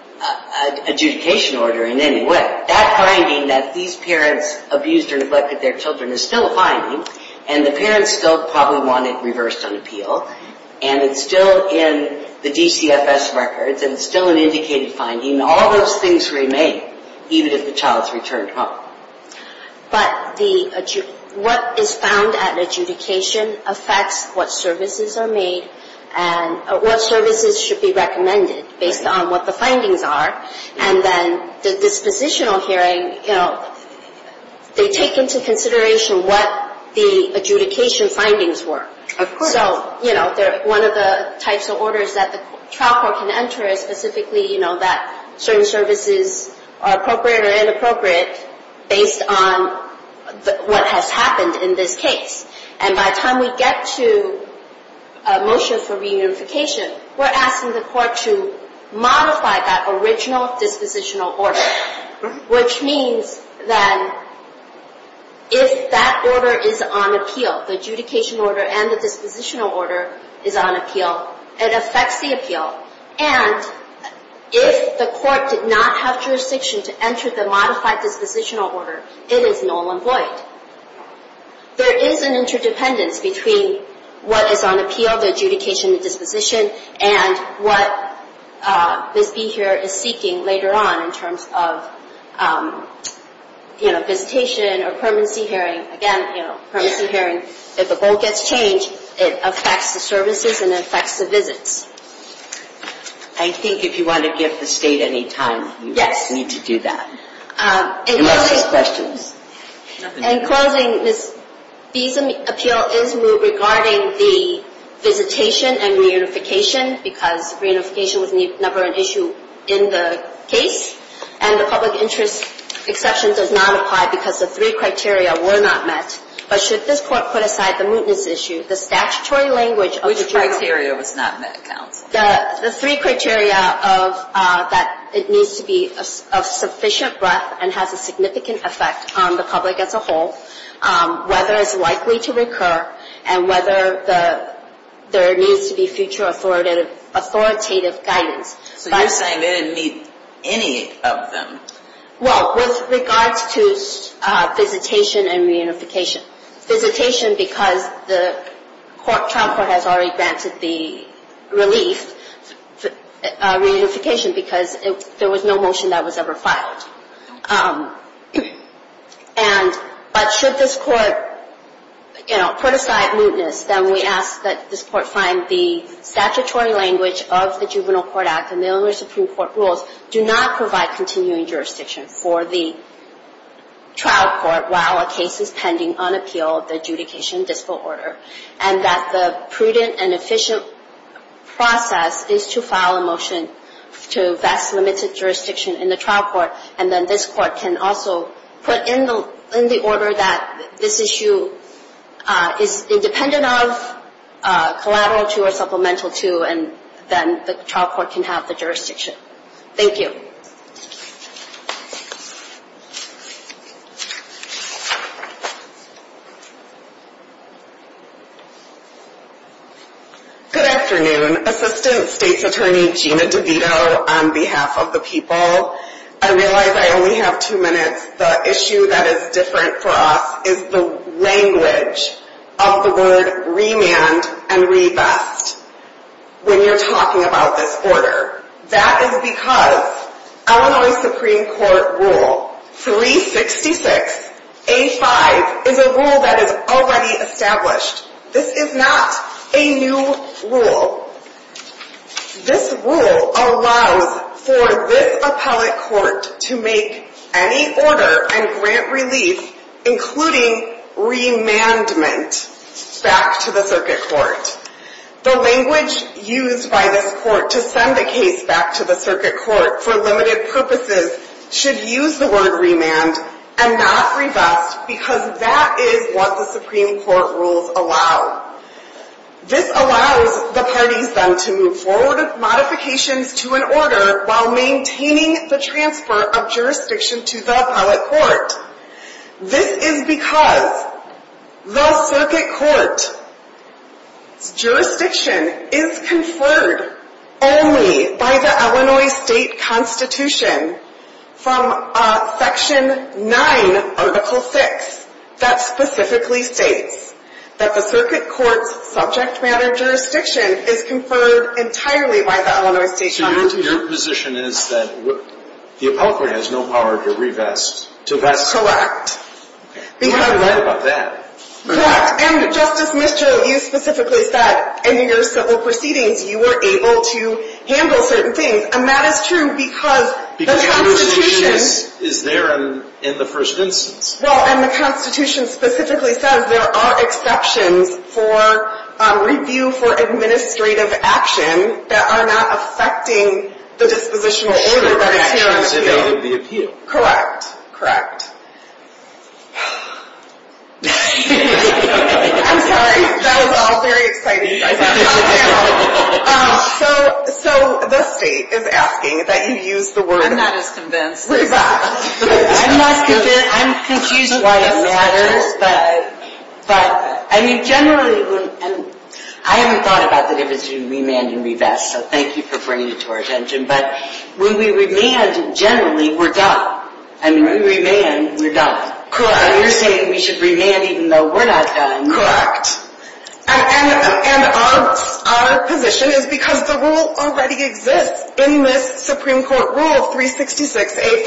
adjudication order in any way. That finding that these parents abused or neglected their children is still a finding and the parents still probably want it reversed on appeal. And it's still in the DCFS records and it's still an indicated finding. All those things remain even if the child's returned home. But what is found at adjudication affects what services are made and what services should be recommended based on what the findings are. And then the dispositional hearing, you know, they take into consideration what the adjudication findings were. Of course. So, you know, one of the types of orders that the trial court can enter is specifically, you know, that certain services are appropriate or inappropriate based on what has happened in this case. And by the time we get to a motion for reunification, we're asking the court to modify that original dispositional order. Which means that if that order is on appeal, the adjudication order and the dispositional order is on appeal, it affects the appeal. And if the court did not have jurisdiction to enter the modified dispositional order, it is null and void. There is an interdependence between what is on appeal, the adjudication and disposition, and what VisB here is seeking later on in terms of, you know, visitation or permanency hearing. Again, you know, permanency hearing. If a goal gets changed, it affects the services and it affects the visits. I think if you want to give the State any time, you need to do that. Unless there's questions. In closing, Ms. B's appeal is regarding the visitation and reunification, because reunification was never an issue in the case. And the public interest exception does not apply because the three criteria were not met. But should this court put aside the mootness issue, the statutory language of the trial court. Which criteria was not met, counsel? The three criteria of that it needs to be of sufficient breadth and has a significant effect on the public as a whole, whether it's likely to recur, and whether there needs to be future authoritative guidance. So you're saying they didn't meet any of them? Well, with regards to visitation and reunification. Visitation because the trial court has already granted the relief. Reunification because there was no motion that was ever filed. But should this court, you know, put aside mootness, then we ask that this court find the statutory language of the Juvenile Court Act and the Illinois Supreme Court rules do not provide continuing jurisdiction for the trial court while a case is pending on appeal of the adjudication dispo order. And that the prudent and efficient process is to file a motion to vest limited jurisdiction in the trial court. And then this court can also put in the order that this issue is independent of, collateral to, or supplemental to, and then the trial court can have the jurisdiction. Thank you. Good afternoon. Assistant State's Attorney Gina DeVito on behalf of the people. I realize I only have two minutes. The issue that is different for us is the language of the word remand and revest. When you're talking about this order. That is because Illinois Supreme Court Rule 366A5 is a rule that is already established. This is not a new rule. This rule allows for this appellate court to make any order and grant relief, including remandment, back to the circuit court. The language used by this court to send the case back to the circuit court for limited purposes should use the word remand and not revest because that is what the Supreme Court rules allow. This allows the parties then to move forward modifications to an order while maintaining the transfer of jurisdiction to the appellate court. This is because the circuit court's jurisdiction is conferred only by the Illinois State Constitution from Section 9, Article 6, that specifically states that the circuit court's subject matter jurisdiction is conferred entirely by the Illinois State Constitution. Your position is that the appellate court has no power to revest. Correct. You have a right about that. Correct. And Justice Mitchell, you specifically said in your civil proceedings you were able to handle certain things. And that is true because the Constitution. Because the jurisdiction is there in the first instance. Well, and the Constitution specifically says there are exceptions for review for administrative action that are not affecting the dispositional order of the appeal. I'm sorry. That was all very exciting. So the state is asking that you use the word revest. I'm not as convinced. I'm not convinced. I'm confused why it matters. I haven't thought about the difference between remand and revest, so thank you for bringing it to our attention. But when we remand generally, we're done. When we remand, we're done. Correct. You're saying we should remand even though we're not done. Correct. And our position is because the rule already exists in this Supreme Court rule of 366A5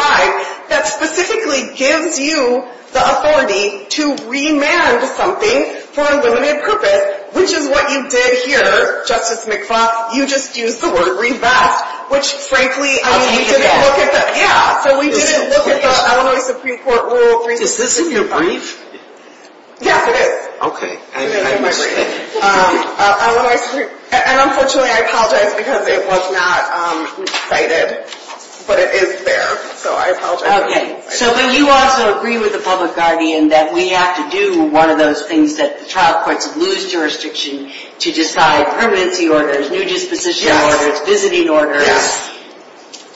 that specifically gives you the authority to remand something for a limited purpose, which is what you did here, Justice McFaul. You just used the word revest, which, frankly, I mean, we didn't look at the — So we didn't look at the Illinois Supreme Court rule of 366A5. Is this in your brief? Yes, it is. Okay. And unfortunately, I apologize because it was not cited, but it is there. So I apologize. Okay. So you also agree with the public guardian that we have to do one of those things that the trial courts lose jurisdiction to decide permanency orders, new disposition orders, visiting orders.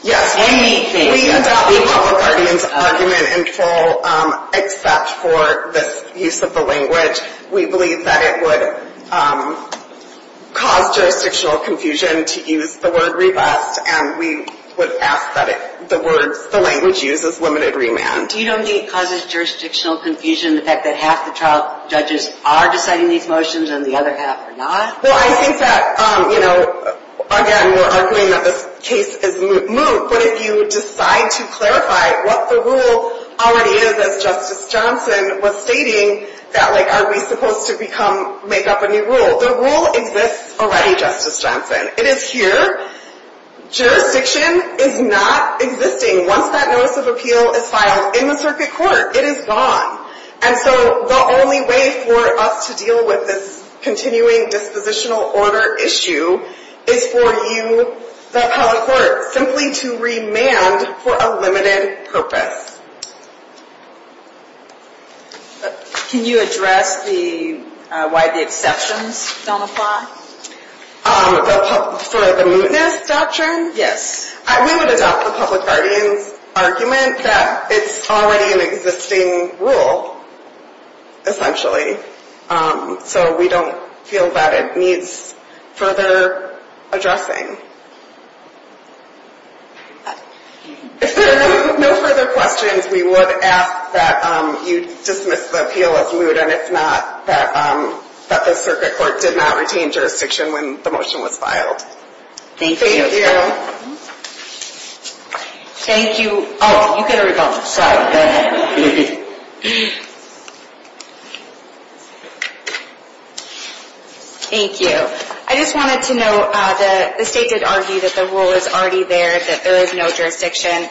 Yes. Anything. We adopt the public guardian's argument in full except for this use of the language. We believe that it would cause jurisdictional confusion to use the word revest, and we would ask that the language used is limited remand. You don't think it causes jurisdictional confusion, the fact that half the trial judges are deciding these motions and the other half are not? Well, I think that, you know, again, we're arguing that this case is moot. But if you decide to clarify what the rule already is, as Justice Johnson was stating, that, like, are we supposed to become — make up a new rule? The rule exists already, Justice Johnson. It is here. Jurisdiction is not existing. Once that notice of appeal is filed in the circuit court, it is gone. And so the only way for us to deal with this continuing dispositional order issue is for you, the appellate court, simply to remand for a limited purpose. Can you address the — why the exceptions don't apply? For the mootness doctrine? Yes. We would adopt the public guardian's argument that it's already an existing rule, essentially, so we don't feel that it needs further addressing. If there are no further questions, we would ask that you dismiss the appeal as moot, and if not, that the circuit court did not retain jurisdiction when the motion was filed. Thank you. Thank you. Oh, you get a rebuttal. Go ahead. Thank you. I just wanted to note that the State did argue that the rule is already there, that there is no jurisdiction.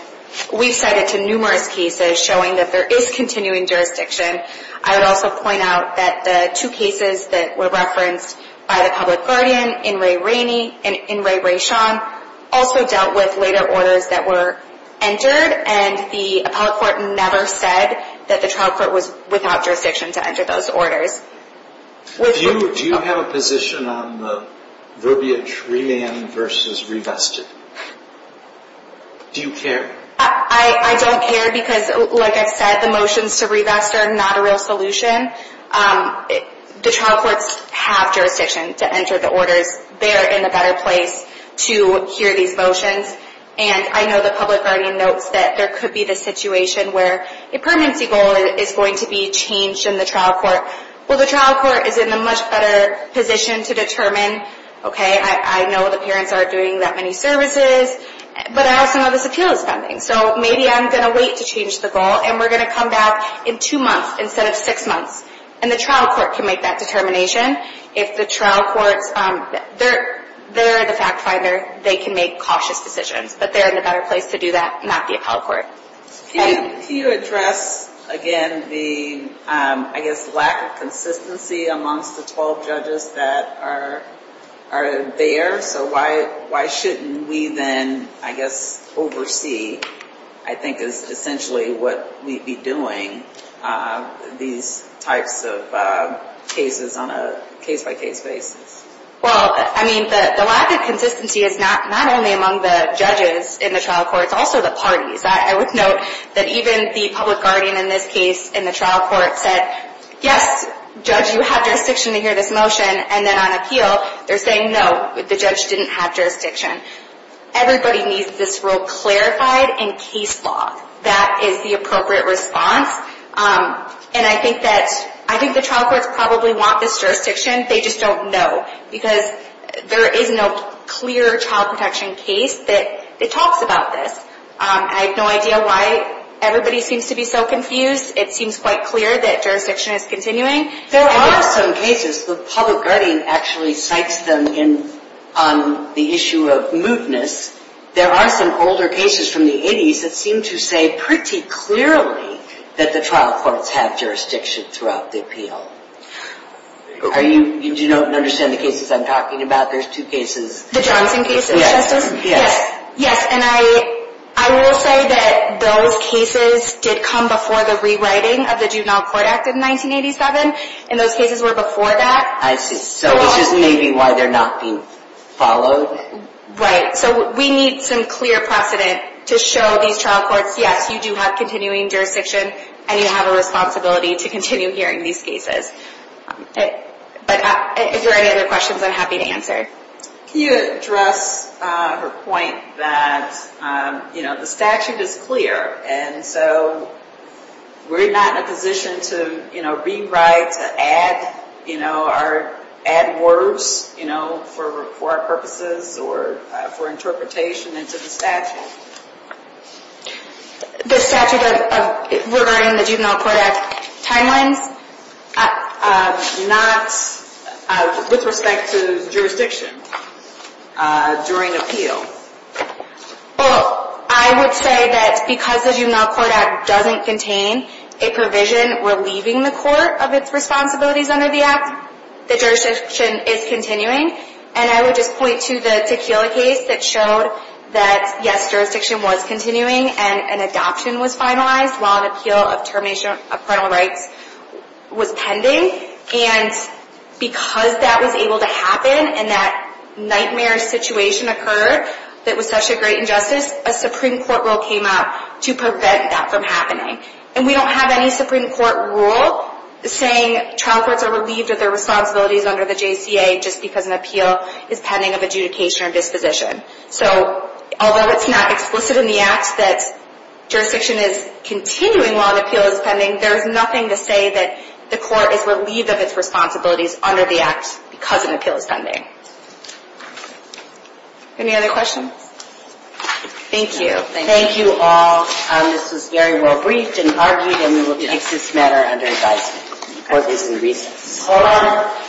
We've cited numerous cases showing that there is continuing jurisdiction. I would also point out that the two cases that were referenced by the public guardian, In re Raney and In re Raishan, also dealt with later orders that were entered, and the appellate court never said that the trial court was without jurisdiction to enter those orders. Do you have a position on the verbiage remand versus revested? Do you care? I don't care because, like I said, the motions to revest are not a real solution. The trial courts have jurisdiction to enter the orders. They're in a better place to hear these motions, and I know the public guardian notes that there could be the situation where a permanency goal is going to be changed in the trial court. Well, the trial court is in a much better position to determine, okay, I know the parents aren't doing that many services, but I also know this appeal is pending. So maybe I'm going to wait to change the goal, and we're going to come back in two months instead of six months, and the trial court can make that determination. If the trial courts, they're the fact finder, they can make cautious decisions, but they're in a better place to do that, not the appellate court. Can you address, again, the, I guess, lack of consistency amongst the 12 judges that are there? So why shouldn't we then, I guess, oversee, I think is essentially what we'd be doing, these types of cases on a case-by-case basis? Well, I mean, the lack of consistency is not only among the judges in the trial courts, also the parties. I would note that even the public guardian in this case in the trial court said, yes, judge, you have jurisdiction to hear this motion, and then on appeal, they're saying, no, the judge didn't have jurisdiction. Everybody needs this rule clarified in case law. That is the appropriate response, and I think that, I think the trial courts probably want this jurisdiction. They just don't know, because there is no clear child protection case that talks about this. I have no idea why everybody seems to be so confused. It seems quite clear that jurisdiction is continuing. There are some cases, the public guardian actually cites them on the issue of mootness. There are some older cases from the 80s that seem to say pretty clearly that the trial courts have jurisdiction throughout the appeal. Do you understand the cases I'm talking about? There's two cases. The Johnson case, Justice? Yes. Yes, and I will say that those cases did come before the rewriting of the Juvenile Court Act of 1987, and those cases were before that. I see. So this is maybe why they're not being followed? Right. So we need some clear precedent to show these trial courts, yes, you do have continuing jurisdiction, and you have a responsibility to continue hearing these cases. But if there are any other questions, I'm happy to answer. Can you address her point that, you know, the statute is clear, and so we're not in a position to, you know, rewrite, to add, you know, or add words, you know, for our purposes or for interpretation into the statute? The statute regarding the Juvenile Court Act timelines? Not with respect to jurisdiction during appeal. Well, I would say that because the Juvenile Court Act doesn't contain a provision relieving the court of its responsibilities under the act, the jurisdiction is continuing. And I would just point to the Tequila case that showed that, yes, jurisdiction was continuing, and an adoption was finalized while an appeal of termination of criminal rights was pending. And because that was able to happen and that nightmare situation occurred that was such a great injustice, a Supreme Court rule came out to prevent that from happening. And we don't have any Supreme Court rule saying trial courts are relieved of their responsibilities under the JCA just because an appeal is pending of adjudication or disposition. So although it's not explicit in the act that jurisdiction is continuing while an appeal is pending, there is nothing to say that the court is relieved of its responsibilities under the act because an appeal is pending. Any other questions? Thank you. Thank you all. This was very well briefed and argued, and we will take this matter under advisement. Hold on.